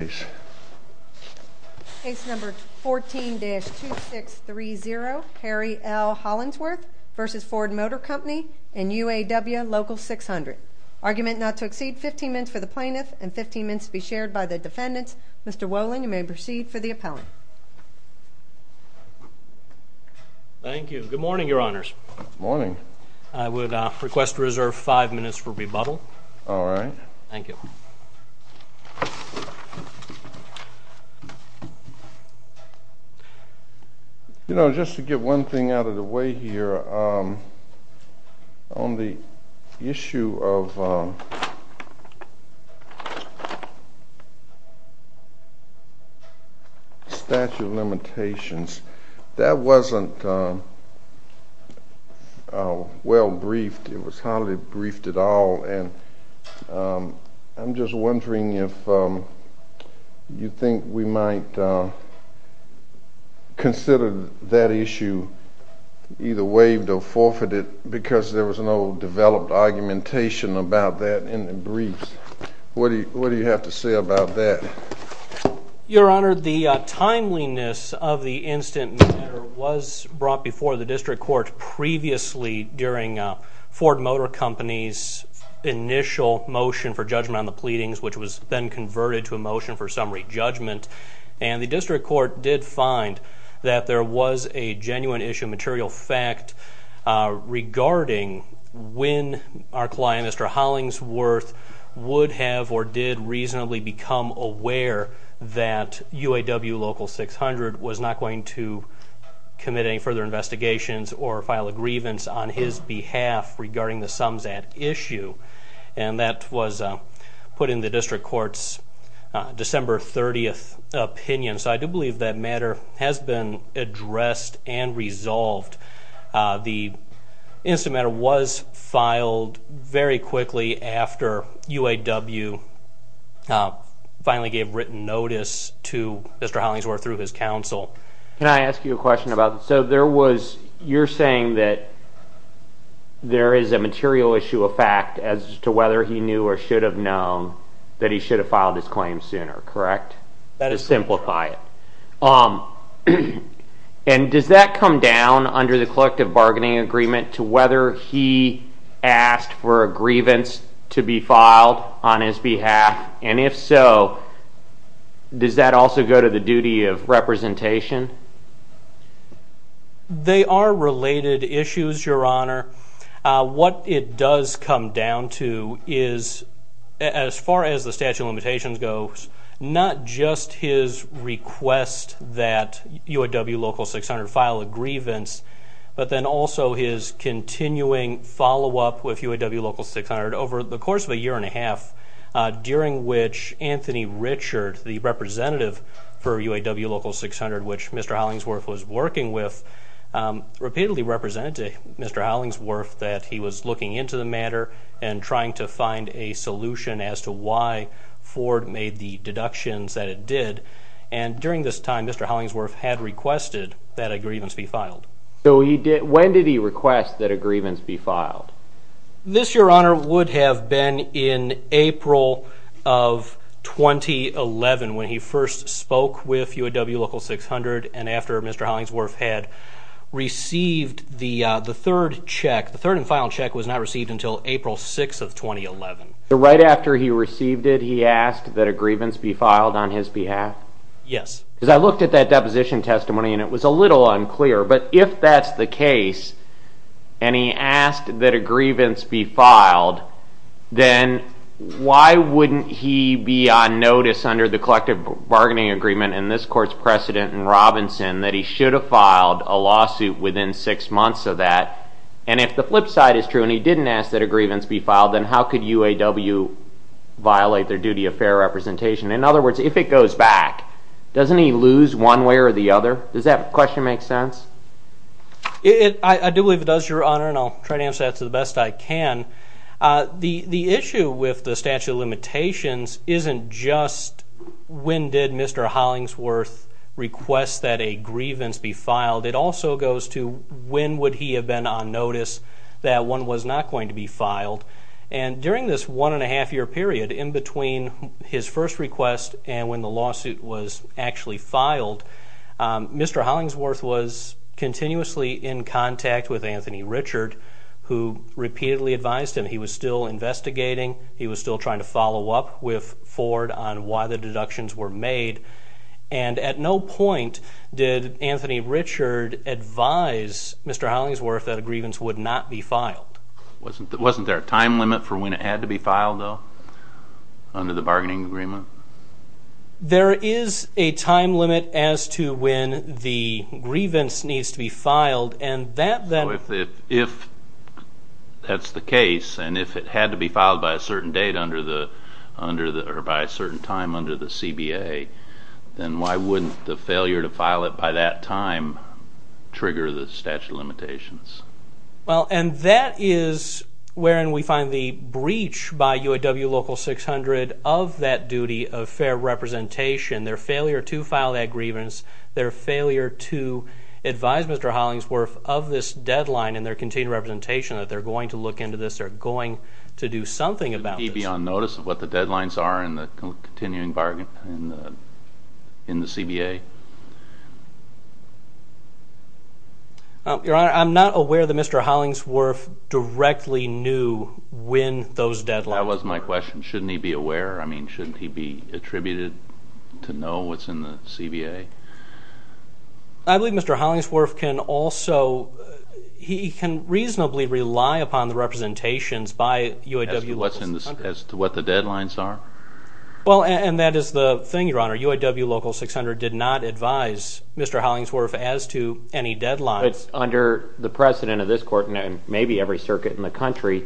Case number 14-2630 Harry L. Hollingsworth v. Ford Motor Co and UAW Local 600. Argument not to exceed 15 minutes for the plaintiff and 15 minutes to be shared by the defendants. Mr. Wolin, you may proceed for the appellant. Thank you. Good morning, your honors. Good morning. I would request to reserve five minutes for rebuttal. All right. Thank you. You know, just to get one thing out of the way here, on the issue of statute of limitations, that wasn't well briefed. It was hardly briefed at all. And I'm just wondering if you think we might consider that issue either waived or forfeited because there was no developed argumentation about that in the briefs. What do you have to say about that? Your honor, the timeliness of the incident was brought before the district court previously during Ford Motor Company's initial motion for judgment on the pleadings, which was then converted to a motion for summary judgment. And the district court did find that there was a genuine issue of material fact regarding when our client, Mr. Hollingsworth, would have or did reasonably become aware that UAW Local 600 was not going to commit any further investigations or file a grievance on his behalf regarding the sums at issue. And that was put in the district court's December 30th opinion. So I do believe that matter has been addressed and resolved. The incident matter was filed very quickly after UAW finally gave written notice to Mr. Hollingsworth through his counsel. Can I ask you a question about, so there was, you're saying that there is a material issue of fact as to whether he knew or should have known that he should have filed his claim sooner, correct? Let us simplify it. And does that come down under the collective bargaining agreement to whether he asked for a grievance to be filed on his behalf? And if so, does that also go to the duty of representation? They are related issues, your honor. What it does come down to is, as far as the statute of limitations goes, not just his request that UAW Local 600 file a grievance, but then also his continuing follow-up with UAW Local 600 over the course of a year and a half, during which Anthony Richard, the representative for UAW Local 600, which Mr. Hollingsworth was working with, repeatedly represented to Mr. Hollingsworth that he was looking into the matter and trying to find a solution as to why Ford made the deductions that it did. And during this time, Mr. Hollingsworth had requested that a grievance be filed. So when did he request that a grievance be filed? This, your honor, would have been in April of 2011 when he first spoke with UAW Local 600 and after Mr. Hollingsworth had received the third check. The third and final check was not received until April 6th of 2011. So right after he received it, he asked that a grievance be filed on his behalf? Yes. Because I looked at that deposition testimony and it was a little unclear. But if that's the case and he asked that a grievance be filed, then why wouldn't he be on notice under the collective bargaining agreement in this court's precedent in Robinson that he should have filed a lawsuit within six months of that? And if the flip side is true and he didn't ask that a grievance be filed, then how could UAW violate their duty of fair representation? In other words, if it goes back, doesn't he lose one way or the other? Does that question make sense? I do believe it does, your honor, and I'll try to answer that to the best I can. The issue with the statute of limitations isn't just when did Mr. Hollingsworth request that a grievance be filed. It also goes to when would he have been on notice that one was not going to be filed. And during this one-and-a-half-year period, in between his first request and when the lawsuit was actually filed, Mr. Hollingsworth was continuously in contact with Anthony Richard, who repeatedly advised him. He was still investigating. He was still trying to follow up with Ford on why the deductions were made. And at no point did Anthony Richard advise Mr. Hollingsworth that a grievance would not be filed. Wasn't there a time limit for when it had to be filed, though, under the bargaining agreement? There is a time limit as to when the grievance needs to be filed, and that then— So if that's the case, and if it had to be filed by a certain date under the—or by a certain time under the CBA, then why wouldn't the failure to file it by that time trigger the statute of limitations? Well, and that is wherein we find the breach by UAW Local 600 of that duty of fair representation, their failure to file that grievance, their failure to advise Mr. Hollingsworth of this deadline and their continued representation that they're going to look into this, they're going to do something about this. Would he be on notice of what the deadlines are in the continuing bargain in the CBA? Your Honor, I'm not aware that Mr. Hollingsworth directly knew when those deadlines— That was my question. Shouldn't he be aware? I mean, shouldn't he be attributed to know what's in the CBA? I believe Mr. Hollingsworth can also—he can reasonably rely upon the representations by UAW Local 600. As to what the deadlines are? Well, and that is the thing, Your Honor. UAW Local 600 did not advise Mr. Hollingsworth as to any deadlines. But under the precedent of this Court, and maybe every circuit in the country,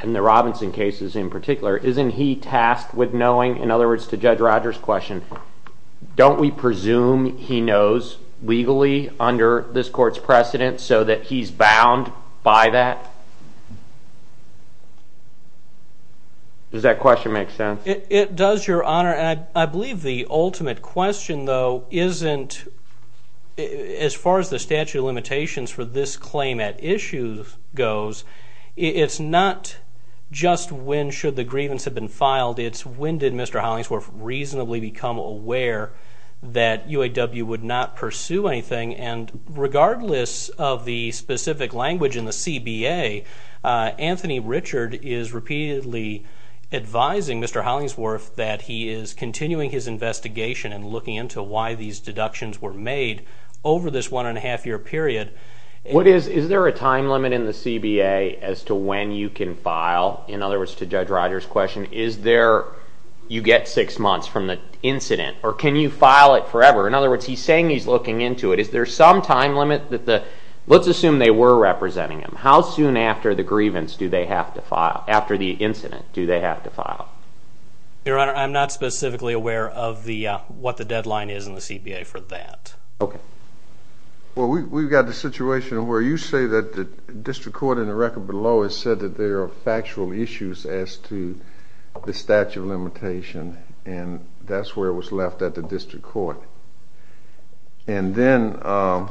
and the Robinson cases in particular, isn't he tasked with knowing—in other words, to Judge Rogers' question, don't we presume he knows legally under this Court's precedent so that he's bound by that? Does that question make sense? It does, Your Honor, and I believe the ultimate question, though, isn't— as far as the statute of limitations for this claim at issue goes, it's not just when should the grievance have been filed. It's when did Mr. Hollingsworth reasonably become aware that UAW would not pursue anything? And regardless of the specific language in the CBA, Anthony Richard is repeatedly advising Mr. Hollingsworth that he is continuing his investigation and looking into why these deductions were made over this one-and-a-half-year period. What is—is there a time limit in the CBA as to when you can file? In other words, to Judge Rogers' question, is there—you get six months from the incident, or can you file it forever? In other words, he's saying he's looking into it. Is there some time limit that the—let's assume they were representing him. How soon after the grievance do they have to file—after the incident do they have to file? Your Honor, I'm not specifically aware of what the deadline is in the CBA for that. Okay. Well, we've got the situation where you say that the district court in the record below has said that there are factual issues as to the statute of limitation, and that's where it was left at the district court. And then on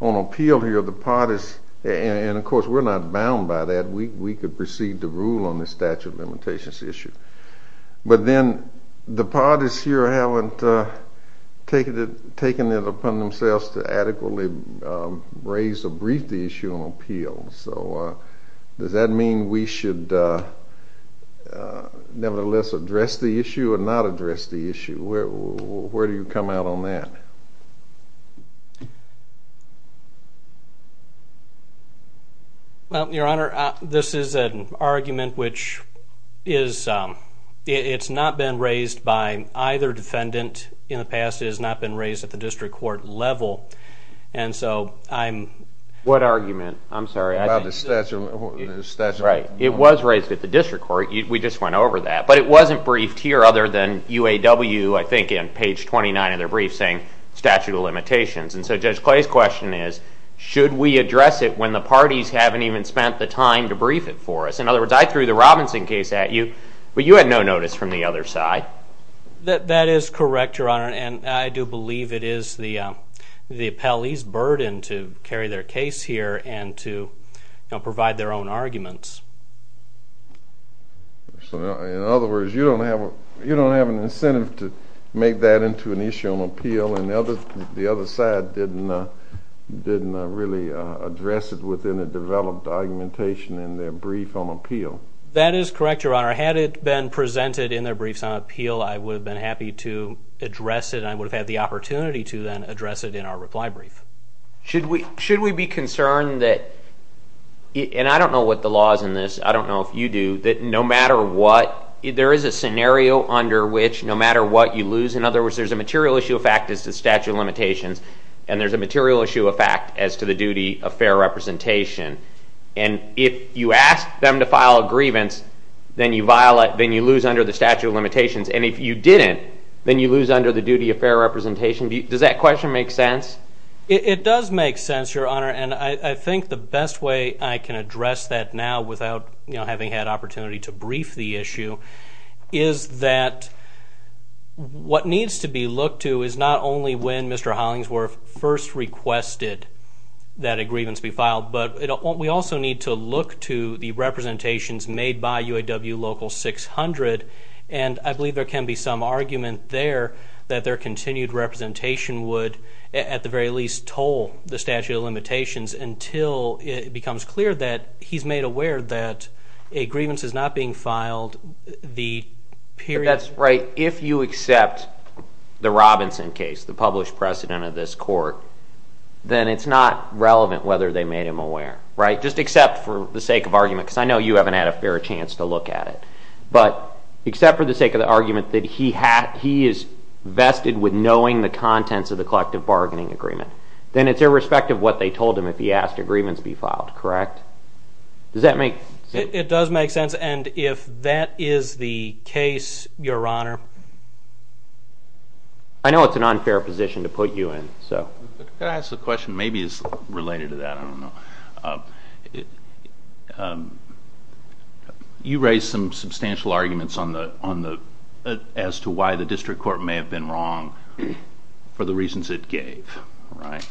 appeal here, the parties—and, of course, we're not bound by that. We could proceed to rule on the statute of limitations issue. But then the parties here haven't taken it upon themselves to adequately raise or brief the issue on appeal. So does that mean we should nevertheless address the issue or not address the issue? Where do you come out on that? Well, Your Honor, this is an argument which is—it's not been raised by either defendant in the past. It has not been raised at the district court level. And so I'm— Right. It was raised at the district court. We just went over that. But it wasn't briefed here other than UAW, I think, on page 29 of their brief, saying statute of limitations. And so Judge Clay's question is, should we address it when the parties haven't even spent the time to brief it for us? In other words, I threw the Robinson case at you, but you had no notice from the other side. That is correct, Your Honor, and I do believe it is the appellee's burden to carry their case here and to provide their own arguments. So, in other words, you don't have an incentive to make that into an issue on appeal, and the other side didn't really address it within a developed argumentation in their brief on appeal? That is correct, Your Honor. Had it been presented in their briefs on appeal, I would have been happy to address it, and I would have had the opportunity to then address it in our reply brief. Should we be concerned that, and I don't know what the law is in this, I don't know if you do, that no matter what, there is a scenario under which no matter what you lose, in other words, there's a material issue of fact as to statute of limitations, and there's a material issue of fact as to the duty of fair representation. And if you ask them to file a grievance, then you lose under the statute of limitations, and if you didn't, then you lose under the duty of fair representation. Does that question make sense? It does make sense, Your Honor, and I think the best way I can address that now without having had opportunity to brief the issue is that what needs to be looked to is not only when Mr. Hollingsworth first requested that a grievance be filed, but we also need to look to the representations made by UAW Local 600, and I believe there can be some argument there that their continued representation would at the very least toll the statute of limitations until it becomes clear that he's made aware that a grievance is not being filed the period. That's right. If you accept the Robinson case, the published precedent of this court, then it's not relevant whether they made him aware, right, just except for the sake of argument because I know you haven't had a fair chance to look at it. But except for the sake of the argument that he is vested with knowing the contents of the collective bargaining agreement, then it's irrespective of what they told him if he asked a grievance be filed, correct? Does that make sense? It does make sense, and if that is the case, Your Honor. I know it's an unfair position to put you in. Could I ask a question maybe that's related to that? I don't know. You raised some substantial arguments as to why the district court may have been wrong for the reasons it gave, right?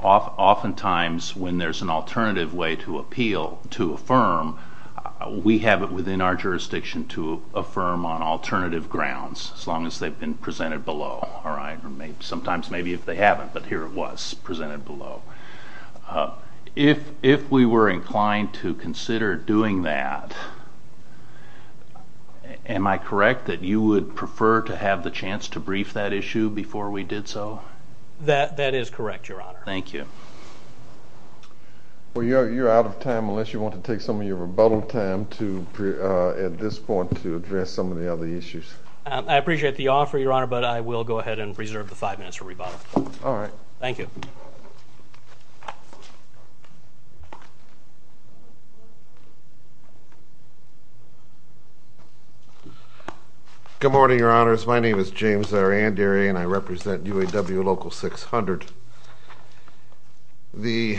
Oftentimes when there's an alternative way to appeal, to affirm, we have it within our jurisdiction to affirm on alternative grounds sometimes maybe if they haven't, but here it was presented below. If we were inclined to consider doing that, am I correct that you would prefer to have the chance to brief that issue before we did so? That is correct, Your Honor. Thank you. Well, you're out of time unless you want to take some of your rebuttal time at this point to address some of the other issues. I appreciate the offer, Your Honor, but I will go ahead and reserve the five minutes for rebuttal. All right. Thank you. Good morning, Your Honors. My name is James Arandieri, and I represent UAW Local 600. The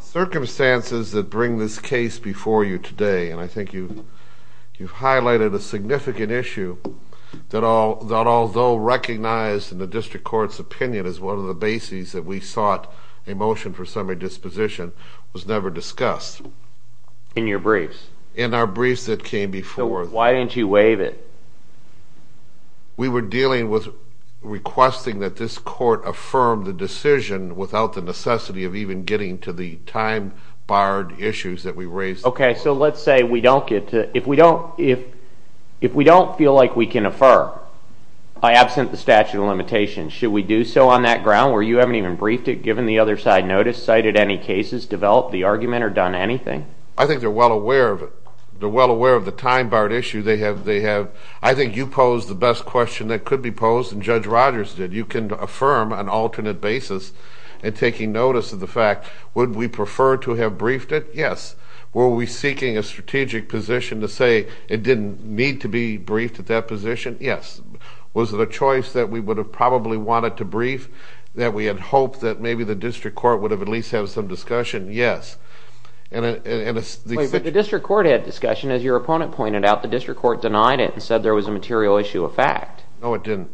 circumstances that bring this case before you today, and I think you've highlighted a significant issue that although recognized in the district court's opinion as one of the bases that we sought a motion for summary disposition was never discussed. In your briefs? In our briefs that came before. So why didn't you waive it? We were dealing with requesting that this court affirm the decision without the necessity of even getting to the time-barred issues that we raised. Okay, so let's say we don't get to it. If we don't feel like we can affirm, absent the statute of limitations, should we do so on that ground where you haven't even briefed it, given the other side notice, cited any cases, developed the argument, or done anything? I think they're well aware of it. They're well aware of the time-barred issue. I think you posed the best question that could be posed, and Judge Rogers did. You can affirm an alternate basis in taking notice of the fact. Would we prefer to have briefed it? Yes. Were we seeking a strategic position to say it didn't need to be briefed at that position? Yes. Was it a choice that we would have probably wanted to brief, that we had hoped that maybe the district court would have at least had some discussion? Yes. Wait, but the district court had discussion. As your opponent pointed out, the district court denied it and said there was a material issue of fact. No, it didn't.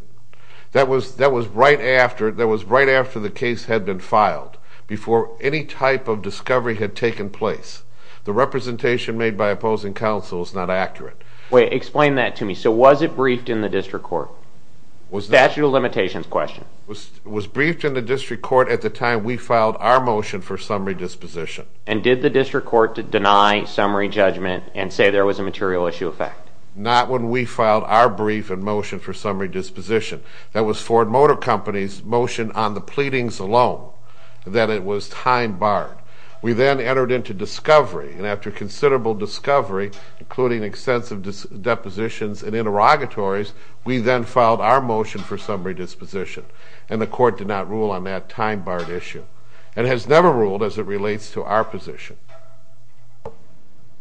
That was right after the case had been filed, before any type of discovery had taken place. The representation made by opposing counsel is not accurate. Wait, explain that to me. So was it briefed in the district court? Statute of limitations question. It was briefed in the district court at the time we filed our motion for summary disposition. And did the district court deny summary judgment and say there was a material issue of fact? Not when we filed our brief and motion for summary disposition. That was Ford Motor Company's motion on the pleadings alone, that it was time-barred. We then entered into discovery, and after considerable discovery, including extensive depositions and interrogatories, we then filed our motion for summary disposition, and the court did not rule on that time-barred issue. It has never ruled as it relates to our position.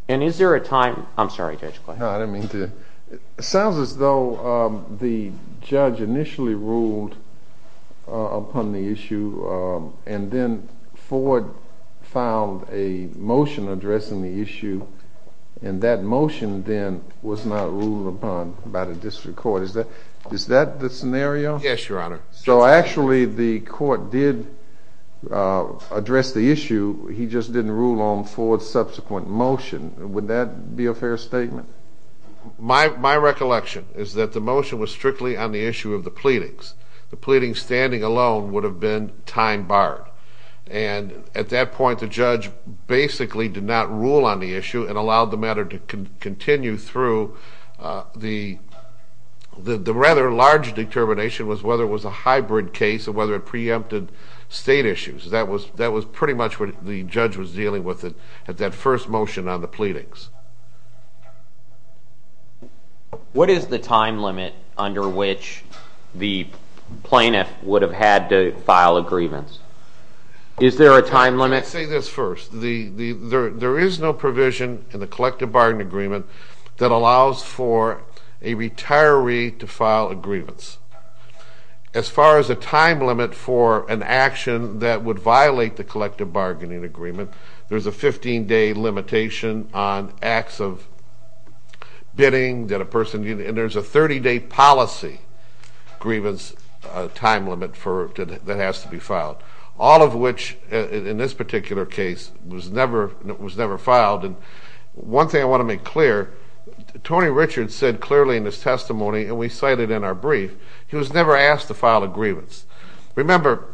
And is there a time- I'm sorry, Judge Clay. No, I didn't mean to. It sounds as though the judge initially ruled upon the issue, and then Ford filed a motion addressing the issue, and that motion then was not ruled upon by the district court. Is that the scenario? Yes, Your Honor. So actually the court did address the issue, he just didn't rule on Ford's subsequent motion. Would that be a fair statement? My recollection is that the motion was strictly on the issue of the pleadings. The pleadings standing alone would have been time-barred. And at that point the judge basically did not rule on the issue and allowed the matter to continue through. The rather large determination was whether it was a hybrid case or whether it preempted state issues. That was pretty much what the judge was dealing with at that first motion on the pleadings. What is the time limit under which the plaintiff would have had to file a grievance? Is there a time limit? Let's say this first. There is no provision in the collective bargaining agreement that allows for a retiree to file a grievance. As far as a time limit for an action that would violate the collective bargaining agreement, there's a 15-day limitation on acts of bidding that a person, and there's a 30-day policy grievance time limit that has to be filed. All of which, in this particular case, was never filed. One thing I want to make clear, Tony Richards said clearly in his testimony, and we cited in our brief, he was never asked to file a grievance. Remember,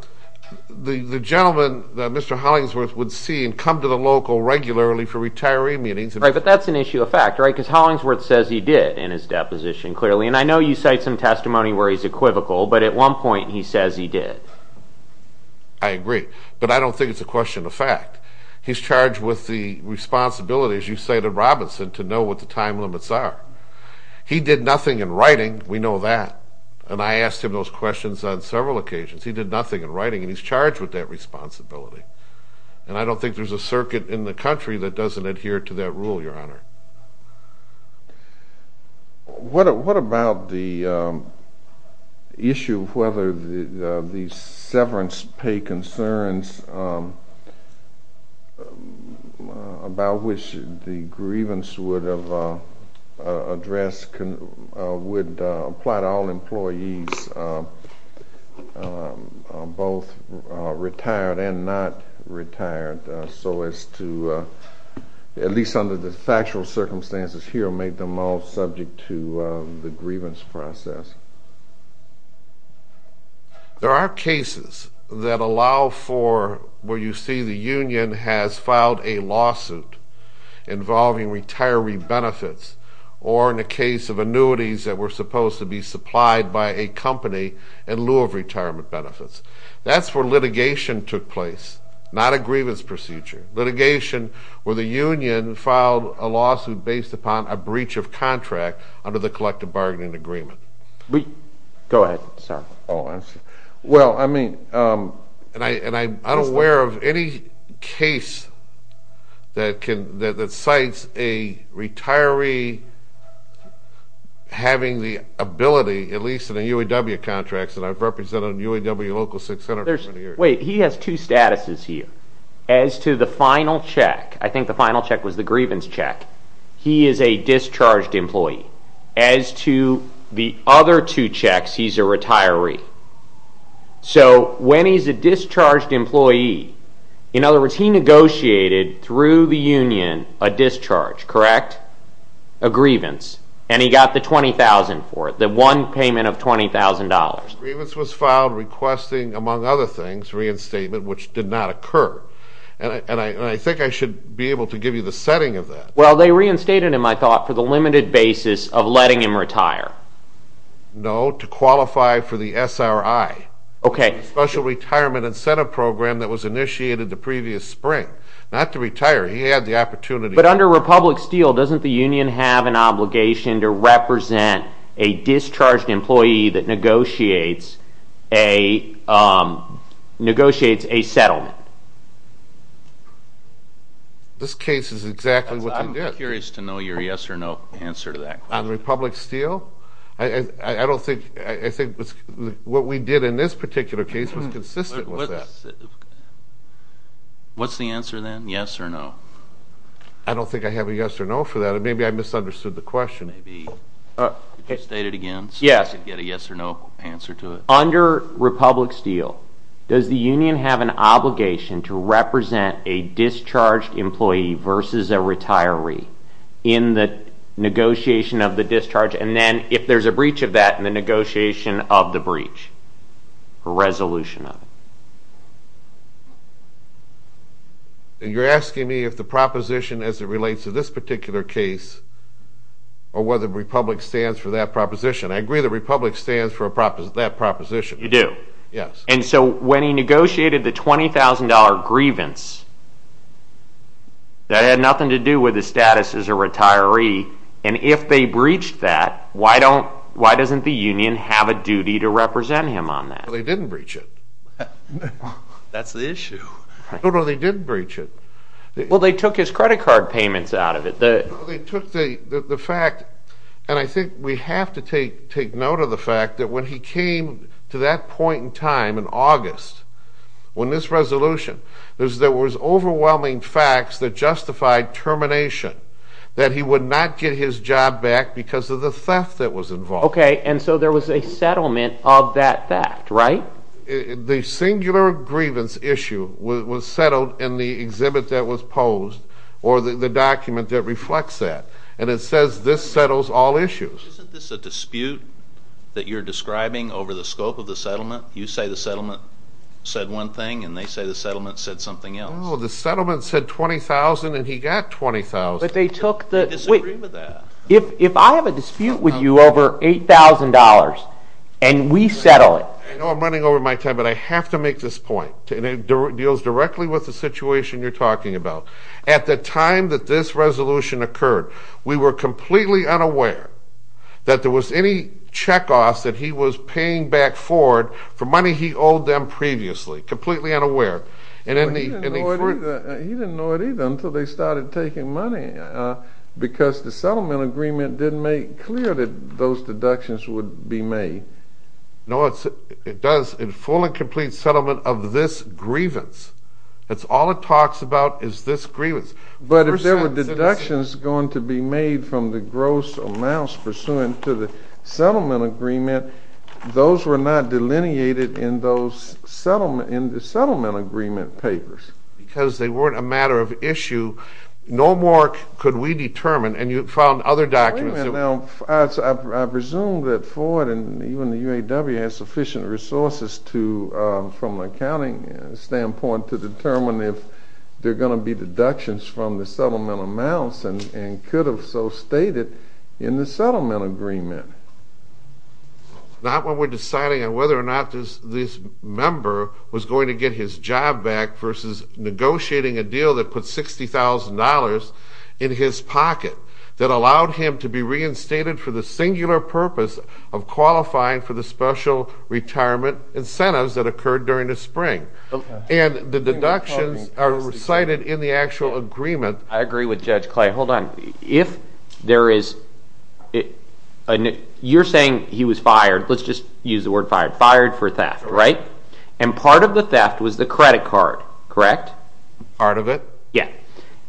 the gentleman that Mr. Hollingsworth would see and come to the local regularly for retiree meetings. Right, but that's an issue of fact, right? Because Hollingsworth says he did in his deposition clearly. And I know you cite some testimony where he's equivocal, but at one point he says he did. I agree. But I don't think it's a question of fact. He's charged with the responsibility, as you say to Robinson, to know what the time limits are. He did nothing in writing, we know that. And I asked him those questions on several occasions. He did nothing in writing, and he's charged with that responsibility. And I don't think there's a circuit in the country that doesn't adhere to that rule, Your Honor. What about the issue of whether the severance pay concerns, about which the grievance would apply to all employees, both retired and not retired, so as to, at least under the factual circumstances here, make them all subject to the grievance process? There are cases that allow for, where you see the union has filed a lawsuit involving retiree benefits, or in the case of annuities that were supposed to be supplied by a company in lieu of retirement benefits. That's where litigation took place, not a grievance procedure. Litigation where the union filed a lawsuit based upon a breach of contract under the collective bargaining agreement. Go ahead, sir. Well, I mean, and I'm unaware of any case that cites a retiree having the ability, at least in the UAW contracts, and I've represented UAW local 600. Wait, he has two statuses here. As to the final check, I think the final check was the grievance check, he is a discharged employee. As to the other two checks, he's a retiree. So when he's a discharged employee, in other words, he negotiated through the union a discharge, correct? A grievance. And he got the $20,000 for it, the one payment of $20,000. The grievance was filed requesting, among other things, reinstatement, which did not occur. And I think I should be able to give you the setting of that. Well, they reinstated him, I thought, for the limited basis of letting him retire. No, to qualify for the SRI, Special Retirement Incentive Program that was initiated the previous spring. Not to retire, he had the opportunity. But under Republic Steel, doesn't the union have an obligation to represent a discharged employee that negotiates a settlement? This case is exactly what they did. I'm curious to know your yes or no answer to that. On Republic Steel? I think what we did in this particular case was consistent with that. What's the answer then, yes or no? I don't think I have a yes or no for that. Maybe I misunderstood the question. Maybe you could state it again so we could get a yes or no answer to it. Under Republic Steel, does the union have an obligation to represent a discharged employee versus a retiree in the negotiation of the discharge? And then, if there's a breach of that, in the negotiation of the breach, a resolution of it. You're asking me if the proposition as it relates to this particular case or whether Republic stands for that proposition. I agree that Republic stands for that proposition. You do? Yes. And so when he negotiated the $20,000 grievance, that had nothing to do with his status as a retiree, and if they breached that, why doesn't the union have a duty to represent him on that? They didn't breach it. That's the issue. No, no, they didn't breach it. Well, they took his credit card payments out of it. They took the fact, and I think we have to take note of the fact that when he came to that point in time in August, when this resolution, there was overwhelming facts that justified termination, that he would not get his job back because of the theft that was involved. Okay, and so there was a settlement of that theft, right? The singular grievance issue was settled in the exhibit that was posed or the document that reflects that, and it says this settles all issues. Isn't this a dispute that you're describing over the scope of the settlement? You say the settlement said one thing, and they say the settlement said something else. Well, the settlement said $20,000, and he got $20,000. But they took the ____. I disagree with that. If I have a dispute with you over $8,000 and we settle it. I know I'm running over my time, but I have to make this point, and it deals directly with the situation you're talking about. At the time that this resolution occurred, we were completely unaware that there was any checkoffs that he was paying back forward for money he owed them previously, completely unaware. He didn't know it either until they started taking money because the settlement agreement didn't make clear that those deductions would be made. No, it does. In full and complete settlement of this grievance, that's all it talks about is this grievance. But if there were deductions going to be made from the gross amounts pursuant to the settlement agreement, those were not delineated in the settlement agreement papers. Because they weren't a matter of issue. No more could we determine, and you found other documents. I presume that Ford and even the UAW had sufficient resources from an accounting standpoint to determine if there are going to be deductions from the settlement amounts and could have so stated in the settlement agreement. Not when we're deciding on whether or not this member was going to get his job back versus negotiating a deal that put $60,000 in his pocket that allowed him to be reinstated for the singular purpose of qualifying for the special retirement incentives that occurred during the spring. And the deductions are recited in the actual agreement. I agree with Judge Clay. Hold on. You're saying he was fired. Let's just use the word fired. Fired for theft, right? And part of the theft was the credit card, correct? Part of it. Yeah.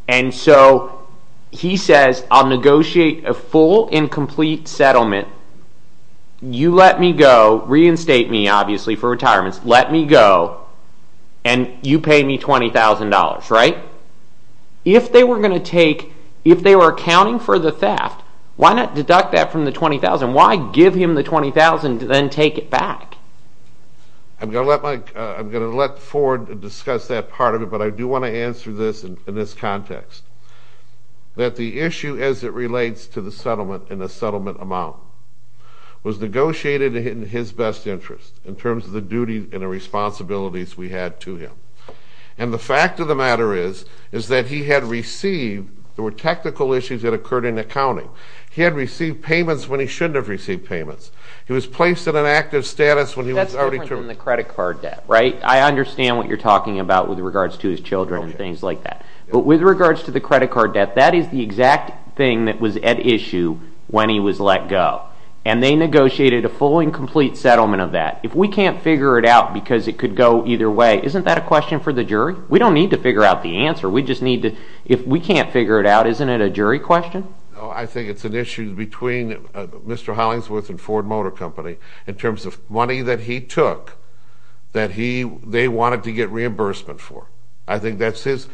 And so he says, I'll negotiate a full and complete settlement. You let me go. Reinstate me, obviously, for retirement. Let me go, and you pay me $20,000, right? If they were going to take, if they were accounting for the theft, why not deduct that from the $20,000? Why give him the $20,000 and then take it back? I'm going to let Ford discuss that part of it, but I do want to answer this in this context. That the issue as it relates to the settlement and the settlement amount was negotiated in his best interest in terms of the duties and the responsibilities we had to him. And the fact of the matter is that he had received, there were technical issues that occurred in accounting. He had received payments when he shouldn't have received payments. He was placed in an active status when he was already termed. That's different than the credit card debt, right? I understand what you're talking about with regards to his children and things like that. But with regards to the credit card debt, that is the exact thing that was at issue when he was let go. And they negotiated a full and complete settlement of that. If we can't figure it out because it could go either way, isn't that a question for the jury? We don't need to figure out the answer. We just need to, if we can't figure it out, isn't it a jury question? I think it's an issue between Mr. Hollingsworth and Ford Motor Company in terms of money that he took that they wanted to get reimbursement for. I think that's his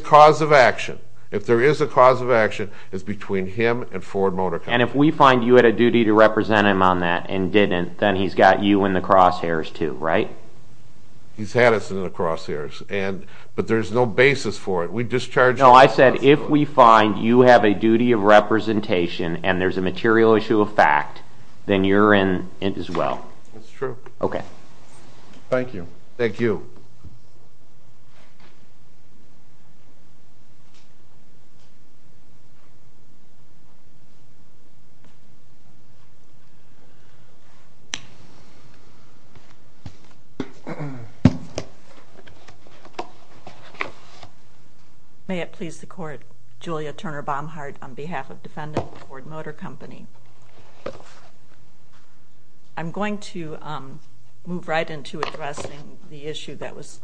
cause of action. If there is a cause of action, it's between him and Ford Motor Company. And if we find you had a duty to represent him on that and didn't, then he's got you in the crosshairs too, right? He's had us in the crosshairs. But there's no basis for it. No, I said if we find you have a duty of representation and there's a material issue of fact, then you're in as well. That's true. Okay. Thank you. Thank you. May it please the Court. Julia Turner Baumhardt on behalf of Defendant Ford Motor Company. I'm going to move right into addressing the issue that was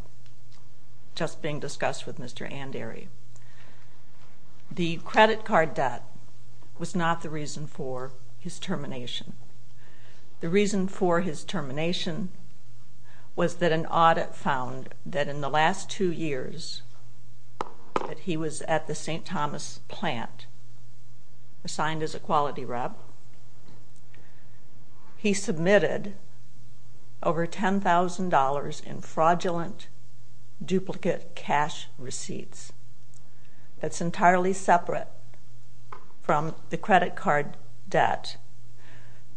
just being discussed with Mr. Anderi. The credit card debt was not the reason for his termination. The reason for his termination was that an audit found that in the last two years that he was at the St. Thomas plant assigned as a quality rep, he submitted over $10,000 in fraudulent duplicate cash receipts. That's entirely separate from the credit card debt.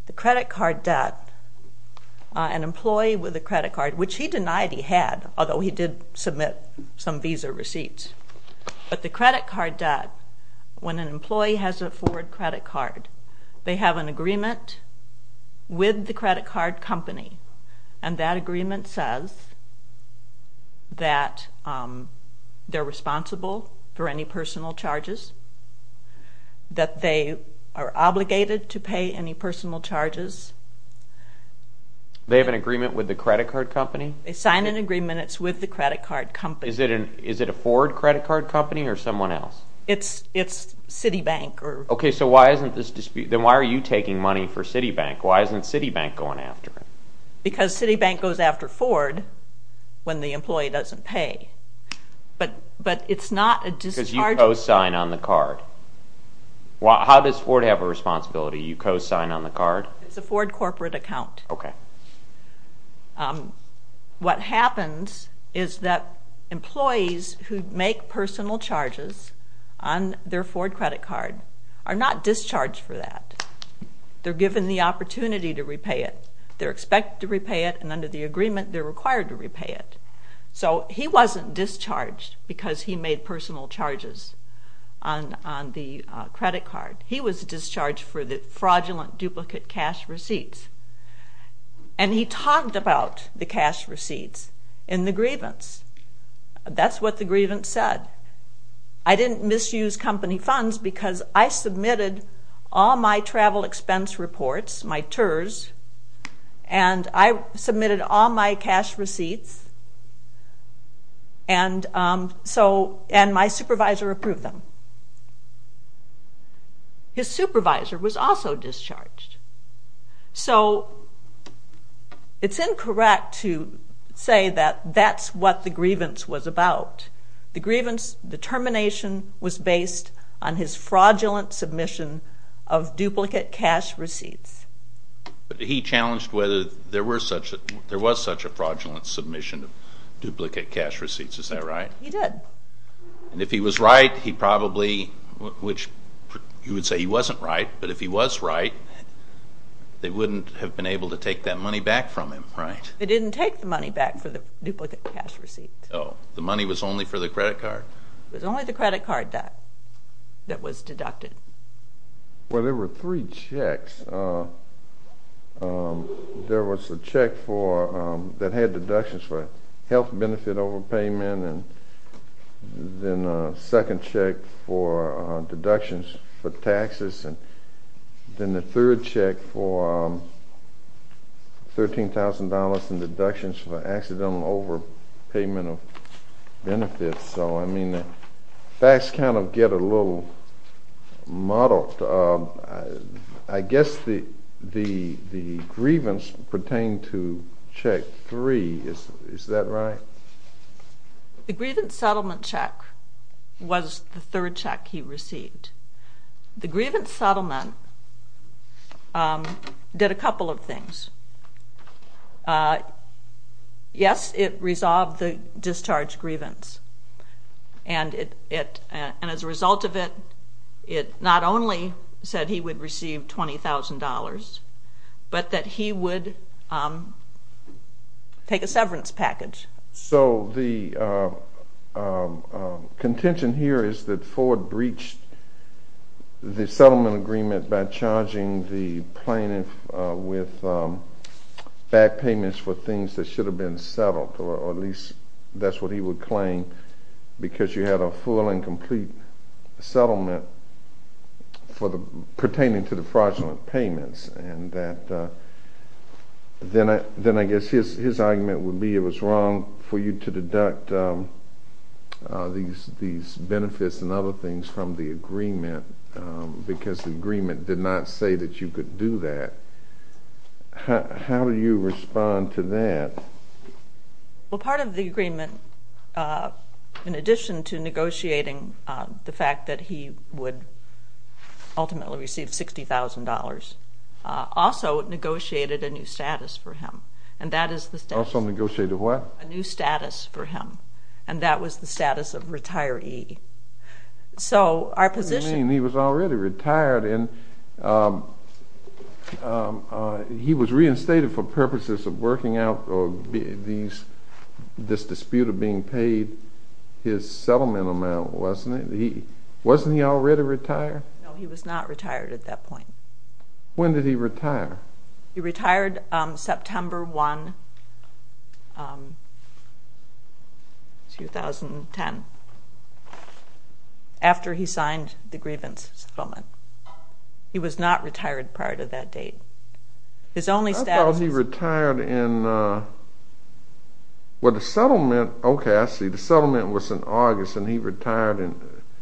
The credit card debt, an employee with a credit card, which he denied he had, although he did submit some visa receipts. But the credit card debt, when an employee has a forward credit card, they have an agreement with the credit card company, and that agreement says that they're responsible for any personal charges, that they are obligated to pay any personal charges. They have an agreement with the credit card company? They signed an agreement. It's with the credit card company. Is it a Ford credit card company or someone else? It's Citibank. Okay. Then why are you taking money for Citibank? Why isn't Citibank going after it? Because Citibank goes after Ford when the employee doesn't pay. But it's not a discharge. Because you co-sign on the card. How does Ford have a responsibility? You co-sign on the card? It's a Ford corporate account. Okay. What happens is that employees who make personal charges on their Ford credit card are not discharged for that. They're given the opportunity to repay it. They're expected to repay it, and under the agreement, they're required to repay it. So he wasn't discharged because he made personal charges on the credit card. He was discharged for the fraudulent duplicate cash receipts. And he talked about the cash receipts in the grievance. That's what the grievance said. I didn't misuse company funds because I submitted all my travel expense reports, my TERS, and I submitted all my cash receipts, and my supervisor approved them. His supervisor was also discharged. So it's incorrect to say that that's what the grievance was about. The grievance determination was based on his fraudulent submission of duplicate cash receipts. But he challenged whether there was such a fraudulent submission of duplicate cash receipts. Is that right? He did. And if he was right, he probably, which you would say he wasn't right, but if he was right, they wouldn't have been able to take that money back from him, right? They didn't take the money back for the duplicate cash receipts. Oh, the money was only for the credit card? It was only the credit card that was deducted. Well, there were three checks. There was a check that had deductions for health benefit overpayment, and then a second check for deductions for taxes, and then the third check for $13,000 in deductions for accidental overpayment of benefits. So, I mean, the facts kind of get a little muddled. I guess the grievance pertained to check three. Is that right? The grievance settlement check was the third check he received. The grievance settlement did a couple of things. Yes, it resolved the discharge grievance, and as a result of it, it not only said he would receive $20,000, but that he would take a severance package. So the contention here is that Ford breached the settlement agreement by charging the plaintiff with back payments for things that should have been settled, or at least that's what he would claim, because you had a full and complete settlement pertaining to the fraudulent payments. And then I guess his argument would be it was wrong for you to deduct these benefits and other things from the agreement because the agreement did not say that you could do that. How do you respond to that? Well, part of the agreement, in addition to negotiating the fact that he would ultimately receive $60,000, also negotiated a new status for him, and that is the status. Also negotiated what? A new status for him, and that was the status of retiree. So our position. What do you mean? He was already retired, and he was reinstated for purposes of working out this dispute of being paid his settlement amount, wasn't he? Wasn't he already retired? No, he was not retired at that point. When did he retire? He retired September 1, 2010, after he signed the grievance settlement. He was not retired prior to that date. I thought he retired in the settlement. Okay, I see. The settlement was in August, and he retired in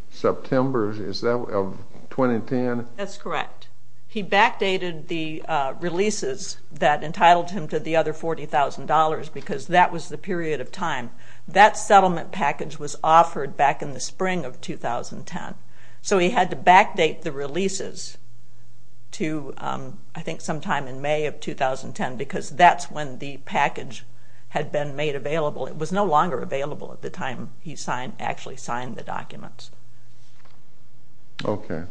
September of 2010. That's correct. He backdated the releases that entitled him to the other $40,000 because that was the period of time. That settlement package was offered back in the spring of 2010. So he had to backdate the releases to, I think, sometime in May of 2010 because that's when the package had been made available. It was no longer available at the time he actually signed the documents. Okay.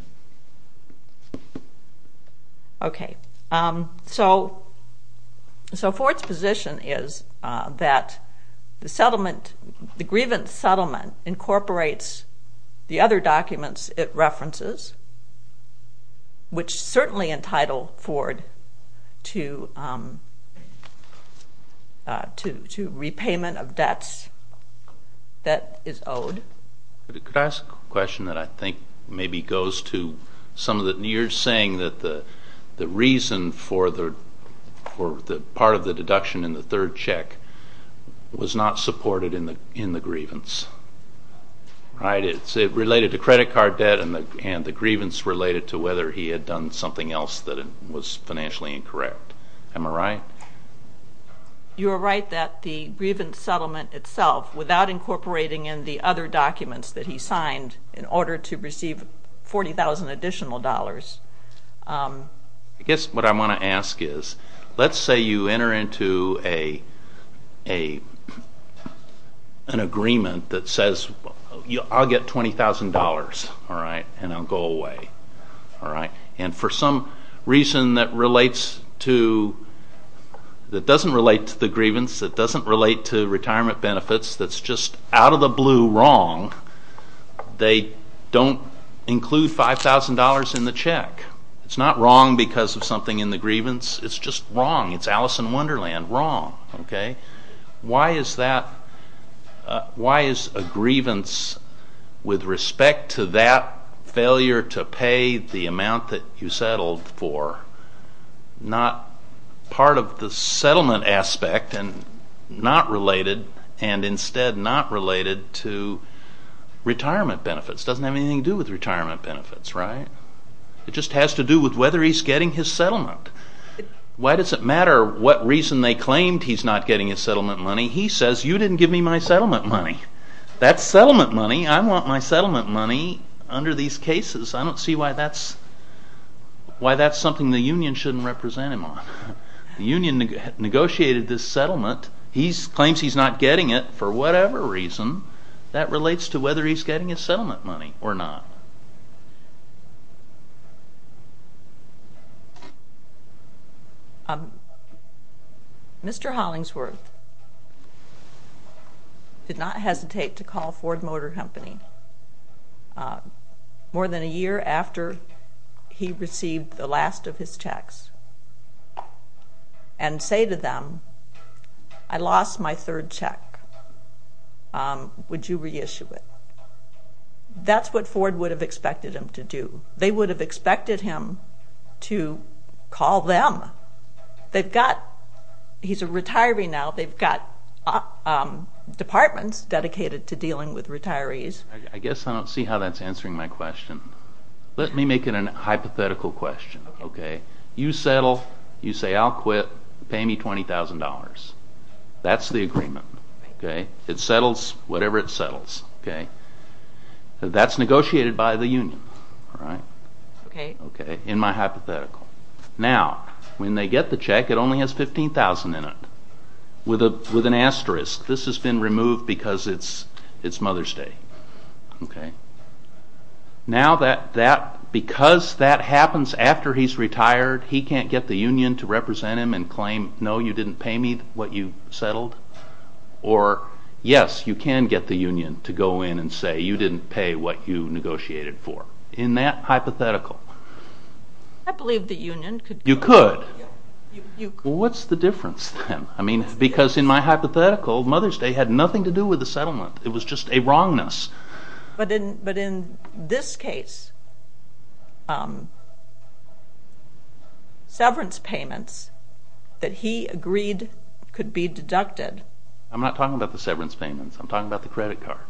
Okay, so Ford's position is that the settlement, the grievance settlement incorporates the other documents it references, which certainly entitle Ford to repayment of debts that is owed. Could I ask a question that I think maybe goes to some of the you're saying that the reason for part of the deduction in the third check was not supported in the grievance, right? It related to credit card debt and the grievance related to whether he had done something else that was financially incorrect. Am I right? You are right that the grievance settlement itself, without incorporating in the other documents that he signed in order to receive $40,000 additional dollars. I guess what I want to ask is, let's say you enter into an agreement that says, I'll get $20,000 and I'll go away. And for some reason that doesn't relate to the grievance, that doesn't relate to retirement benefits, that's just out of the blue wrong, they don't include $5,000 in the check. It's not wrong because of something in the grievance. It's just wrong. It's Alice in Wonderland, wrong. Why is a grievance with respect to that failure to pay the amount that you settled for not part of the settlement aspect and not related and instead not related to retirement benefits? It doesn't have anything to do with retirement benefits, right? It just has to do with whether he's getting his settlement. Why does it matter what reason they claimed he's not getting his settlement money? He says, you didn't give me my settlement money. That's settlement money. I want my settlement money under these cases. I don't see why that's something the union shouldn't represent him on. The union negotiated this settlement. He claims he's not getting it for whatever reason. That relates to whether he's getting his settlement money or not. Mr. Hollingsworth did not hesitate to call Ford Motor Company more than a year after he received the last of his checks and say to them, I lost my third check. Would you reissue it? That's what Ford would have expected him to do. They would have expected him to call them. He's a retiree now. They've got departments dedicated to dealing with retirees. I guess I don't see how that's answering my question. Let me make it a hypothetical question. You settle, you say I'll quit, pay me $20,000. That's the agreement. It settles whatever it settles. That's negotiated by the union in my hypothetical. Now, when they get the check, it only has $15,000 in it with an asterisk. This has been removed because it's Mother's Day. Now, because that happens after he's retired, he can't get the union to represent him and claim, no, you didn't pay me what you settled. Or, yes, you can get the union to go in and say, you didn't pay what you negotiated for. In that hypothetical. I believe the union could go in. You could. What's the difference then? Because in my hypothetical, Mother's Day had nothing to do with the settlement. It was just a wrongness. But in this case, severance payments that he agreed could be deducted. I'm not talking about the severance payments. I'm talking about the credit card.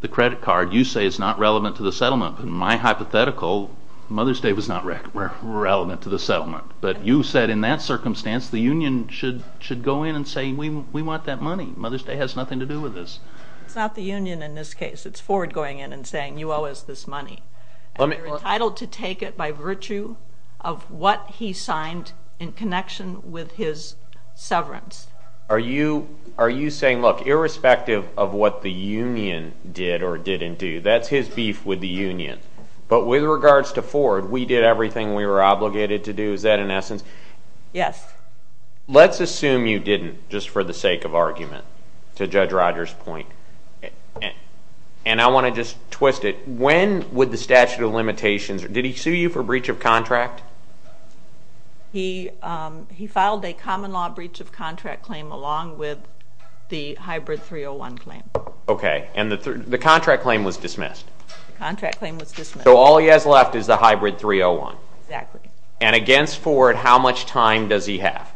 The credit card you say is not relevant to the settlement. In my hypothetical, Mother's Day was not relevant to the settlement. But you said in that circumstance, the union should go in and say, we want that money. Mother's Day has nothing to do with this. It's not the union in this case. It's Ford going in and saying, you owe us this money. And you're entitled to take it by virtue of what he signed in connection with his severance. Are you saying, look, irrespective of what the union did or didn't do, that's his beef with the union. But with regards to Ford, we did everything we were obligated to do. Is that in essence? Yes. Let's assume you didn't, just for the sake of argument, to Judge Rogers' point. And I want to just twist it. When would the statute of limitations, did he sue you for breach of contract? He filed a common law breach of contract claim along with the hybrid 301 claim. OK. And the contract claim was dismissed. The contract claim was dismissed. So all he has left is the hybrid 301. Exactly. And against Ford, how much time does he have?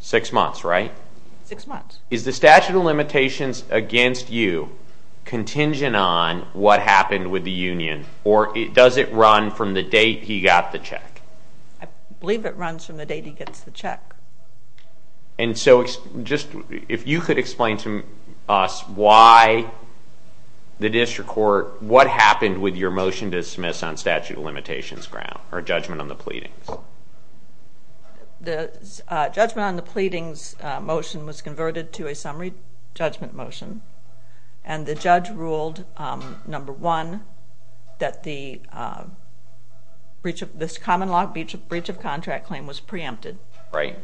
Six months, right? Six months. Is the statute of limitations against you contingent on what happened with the union? Or does it run from the date he got the check? I believe it runs from the date he gets the check. And so if you could explain to us why the district court, what happened with your motion to dismiss on statute of limitations ground, or judgment on the pleadings? The judgment on the pleadings motion was converted to a summary judgment motion. And the judge ruled, number one, that this common law breach of contract claim was preempted. Right.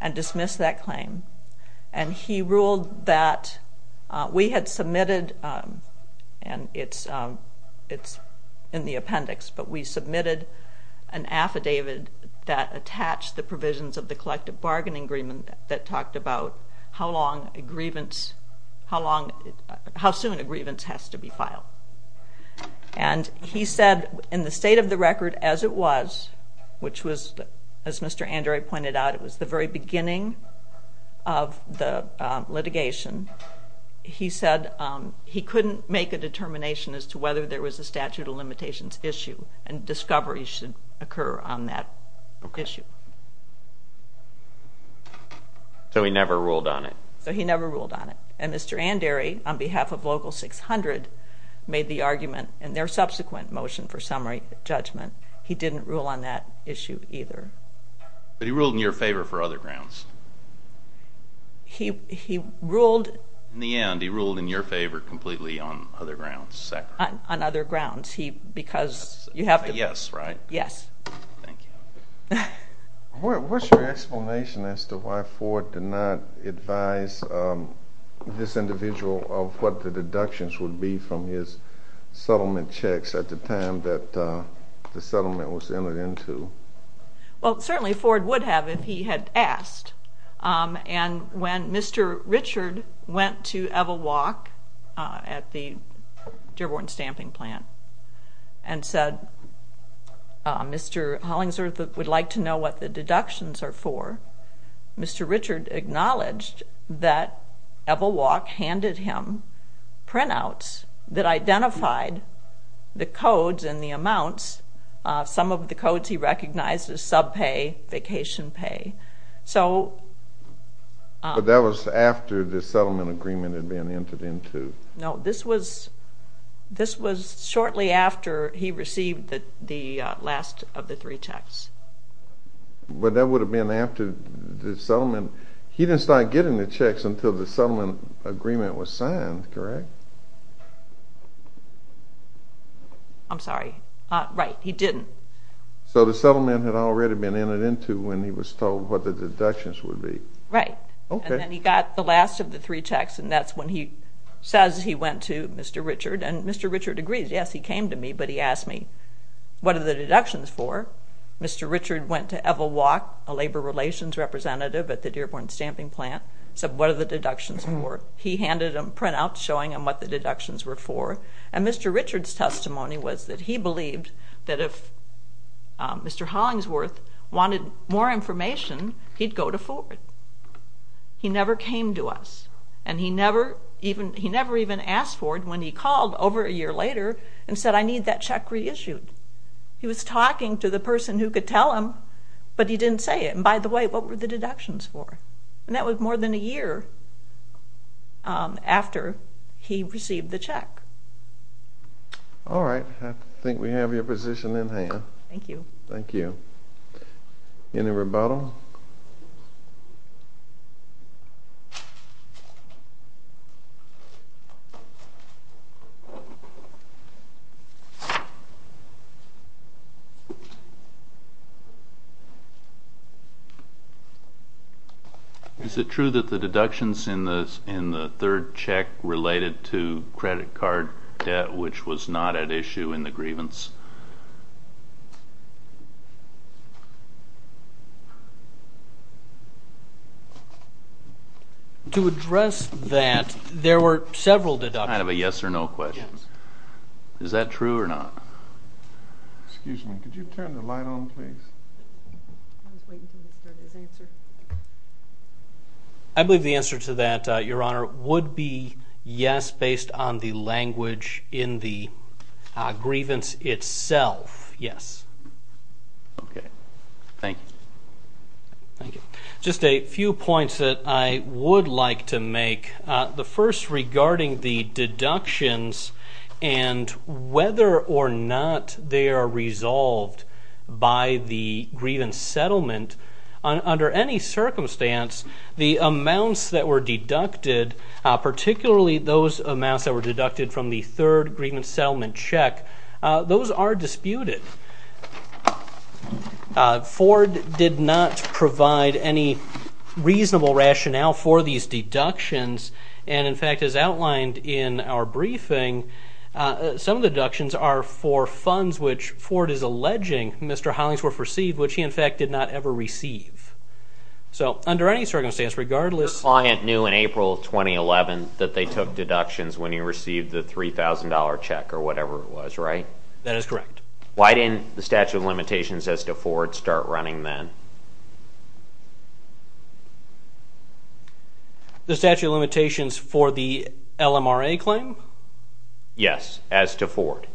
And dismissed that claim. And he ruled that we had submitted, and it's in the appendix, but we submitted an affidavit that attached the provisions of the collective bargaining agreement that talked about how soon a grievance has to be filed. And he said, in the state of the record as it was, which was, as Mr. Andre pointed out, it was the very beginning of the litigation, he said he couldn't make a determination as to whether there was a statute of limitations issue. And discovery should occur on that issue. So he never ruled on it? So he never ruled on it. And Mr. Andre, on behalf of Local 600, made the argument in their subsequent motion for summary judgment, he didn't rule on that issue either. But he ruled in your favor for other grounds? He ruled. In the end, he ruled in your favor completely on other grounds. On other grounds. Because you have to. Yes, right? Yes. Thank you. What's your explanation as to why Ford did not advise this individual of what the deductions would be from his settlement checks at the time that the settlement was entered into? Well, certainly Ford would have if he had asked. And when Mr. Richard went to Evel Walk at the Dearborn Stamping Plant and said Mr. Hollingsworth would like to know what the deductions are for, Mr. Richard acknowledged that Evel Walk handed him printouts that identified the codes and the amounts, some of the codes he recognized as subpay, vacation pay. But that was after the settlement agreement had been entered into. No, this was shortly after he received the last of the three checks. But that would have been after the settlement. He didn't start getting the checks until the settlement agreement was signed, correct? I'm sorry. Right, he didn't. So the settlement had already been entered into when he was told what the deductions would be. Right. Okay. And then he got the last of the three checks, and that's when he says he went to Mr. Richard. And Mr. Richard agrees. Yes, he came to me, but he asked me what are the deductions for. Mr. Richard went to Evel Walk, a labor relations representative at the Dearborn Stamping Plant, said what are the deductions for. He handed him printouts showing him what the deductions were for. And Mr. Richard's testimony was that he believed that if Mr. Hollingsworth wanted more information, he'd go to Ford. He never came to us. And he never even asked Ford when he called over a year later and said I need that check reissued. He was talking to the person who could tell him, but he didn't say it. And by the way, what were the deductions for? And that was more than a year after he received the check. All right. I think we have your position in hand. Thank you. Thank you. Any rebuttal? Is it true that the deductions in the third check related to credit card debt, which was not at issue in the grievance? To address that, there were several deductions. I have a yes or no question. Is that true or not? Excuse me. Could you turn the light on, please? I believe the answer to that, Your Honor, would be yes based on the language in the grievance itself, yes. Okay. Thank you. Thank you. Just a few points that I would like to make. The first regarding the deductions and whether or not they are resolved by the grievance settlement. Under any circumstance, the amounts that were deducted, particularly those amounts that were deducted from the third grievance settlement check, those are disputed. Ford did not provide any reasonable rationale for these deductions. And, in fact, as outlined in our briefing, some of the deductions are for funds which Ford is alleging Mr. Hollingsworth received, which he, in fact, did not ever receive. So under any circumstance, regardless of ---- Your client knew in April of 2011 that they took deductions when he received the $3,000 check or whatever it was, right? That is correct. Why didn't the statute of limitations as to Ford start running then? The statute of limitations for the LMRA claim? Yes, as to Ford.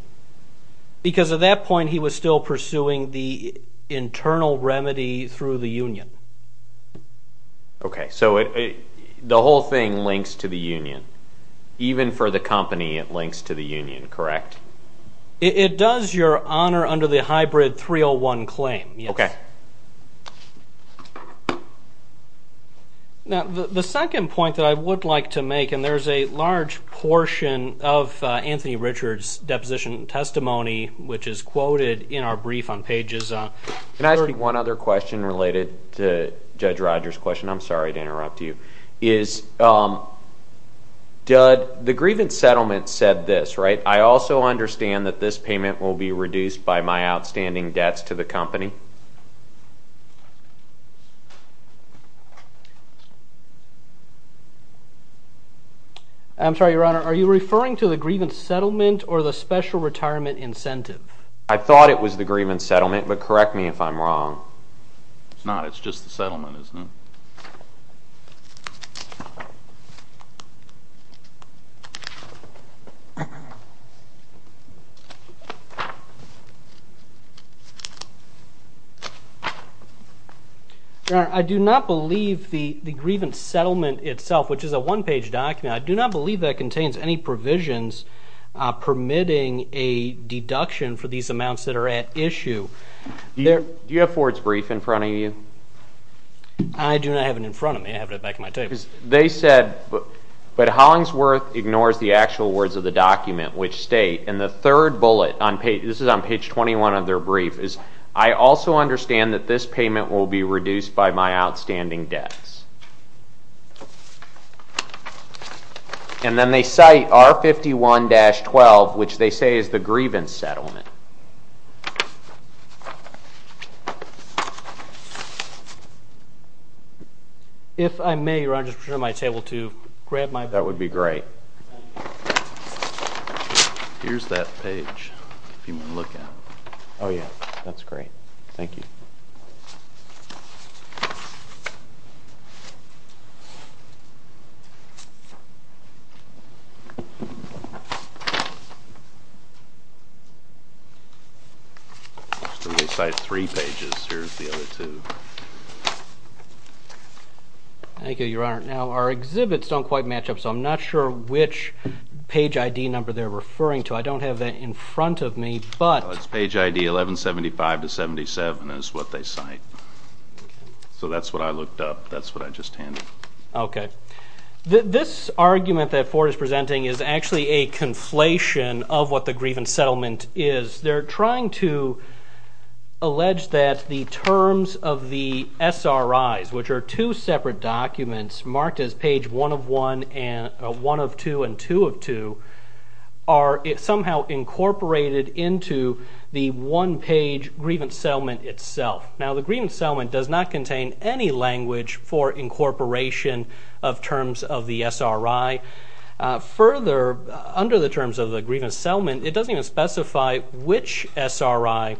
Because at that point he was still pursuing the internal remedy through the union. Okay. So the whole thing links to the union. Even for the company, it links to the union, correct? It does, Your Honor, under the hybrid 301 claim, yes. Okay. Now, the second point that I would like to make, and there's a large portion of Anthony Richards' deposition testimony, which is quoted in our brief on pages ---- Can I ask you one other question related to Judge Rogers' question? I'm sorry to interrupt you. Is the grievance settlement said this, right? I also understand that this payment will be reduced by my outstanding debts to the company. I'm sorry, Your Honor. Are you referring to the grievance settlement or the special retirement incentive? I thought it was the grievance settlement, but correct me if I'm wrong. It's not. It's just the settlement, isn't it? Your Honor, I do not believe the grievance settlement itself, which is a one-page document, I do not believe that contains any provisions permitting a deduction for these amounts that are at issue. Do you have Ford's brief in front of you? I do not have it in front of me. I have it back at my table. They said, but Hollingsworth ignores the actual words of the document, which state, and the third bullet, this is on page 21 of their brief, is I also understand that this payment will be reduced by my outstanding debts. And then they cite R51-12, which they say is the grievance settlement. If I may, Your Honor, I just prefer my table to grab my book. That would be great. Here's that page if you want to look at it. Oh, yeah, that's great. Thank you. They cite three pages. Here's the other two. Thank you, Your Honor. Now, our exhibits don't quite match up, so I'm not sure which page ID number they're referring to. I don't have that in front of me, but... R57 is what they cite. So that's what I looked up. That's what I just handed. Okay. This argument that Ford is presenting is actually a conflation of what the grievance settlement is. They're trying to allege that the terms of the SRIs, which are two separate documents marked as page 1 of 2 and 2 of 2, are somehow incorporated into the one-page grievance settlement itself. Now, the grievance settlement does not contain any language for incorporation of terms of the SRI. Further, under the terms of the grievance settlement, it doesn't even specify which SRI,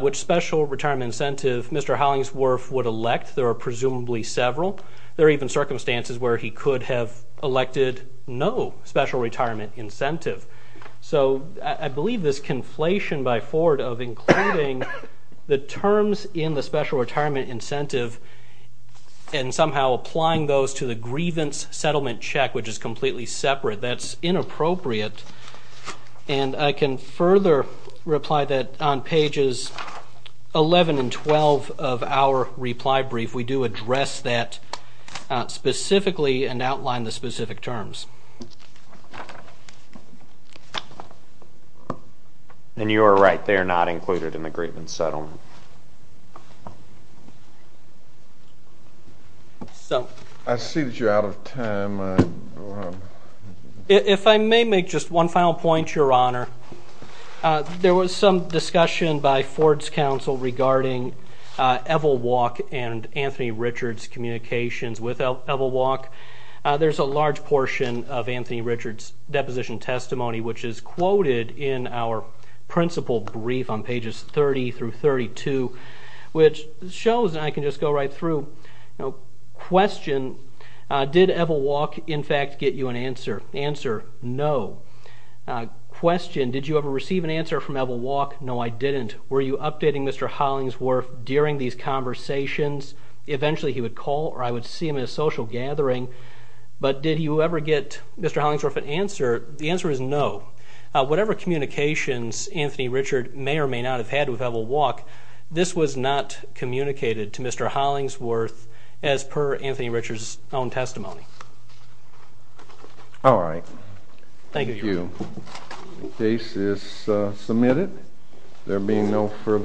which special retirement incentive Mr. Hollingsworth would elect. There are presumably several. There are even circumstances where he could have elected no special retirement incentive. So I believe this conflation by Ford of including the terms in the special retirement incentive and somehow applying those to the grievance settlement check, which is completely separate, that's inappropriate. And I can further reply that on pages 11 and 12 of our reply brief, we do address that specifically and outline the specific terms. And you are right. They are not included in the grievance settlement. I see that you're out of time. If I may make just one final point, Your Honor. There was some discussion by Ford's counsel regarding Evel Walk and Anthony Richards' communications with Evel Walk. There's a large portion of Anthony Richards' deposition testimony, which is quoted in our principal brief on pages 30 through 32, which shows, and I can just go right through, question, did Evel Walk, in fact, get you an answer? Answer, no. Question, did you ever receive an answer from Evel Walk? No, I didn't. Were you updating Mr. Hollingsworth during these conversations? Eventually he would call or I would see him in a social gathering. But did you ever get Mr. Hollingsworth an answer? The answer is no. Whatever communications Anthony Richards may or may not have had with Evel Walk, this was not communicated to Mr. Hollingsworth as per Anthony Richards' own testimony. All right. Thank you. The case is submitted. There being no further questions.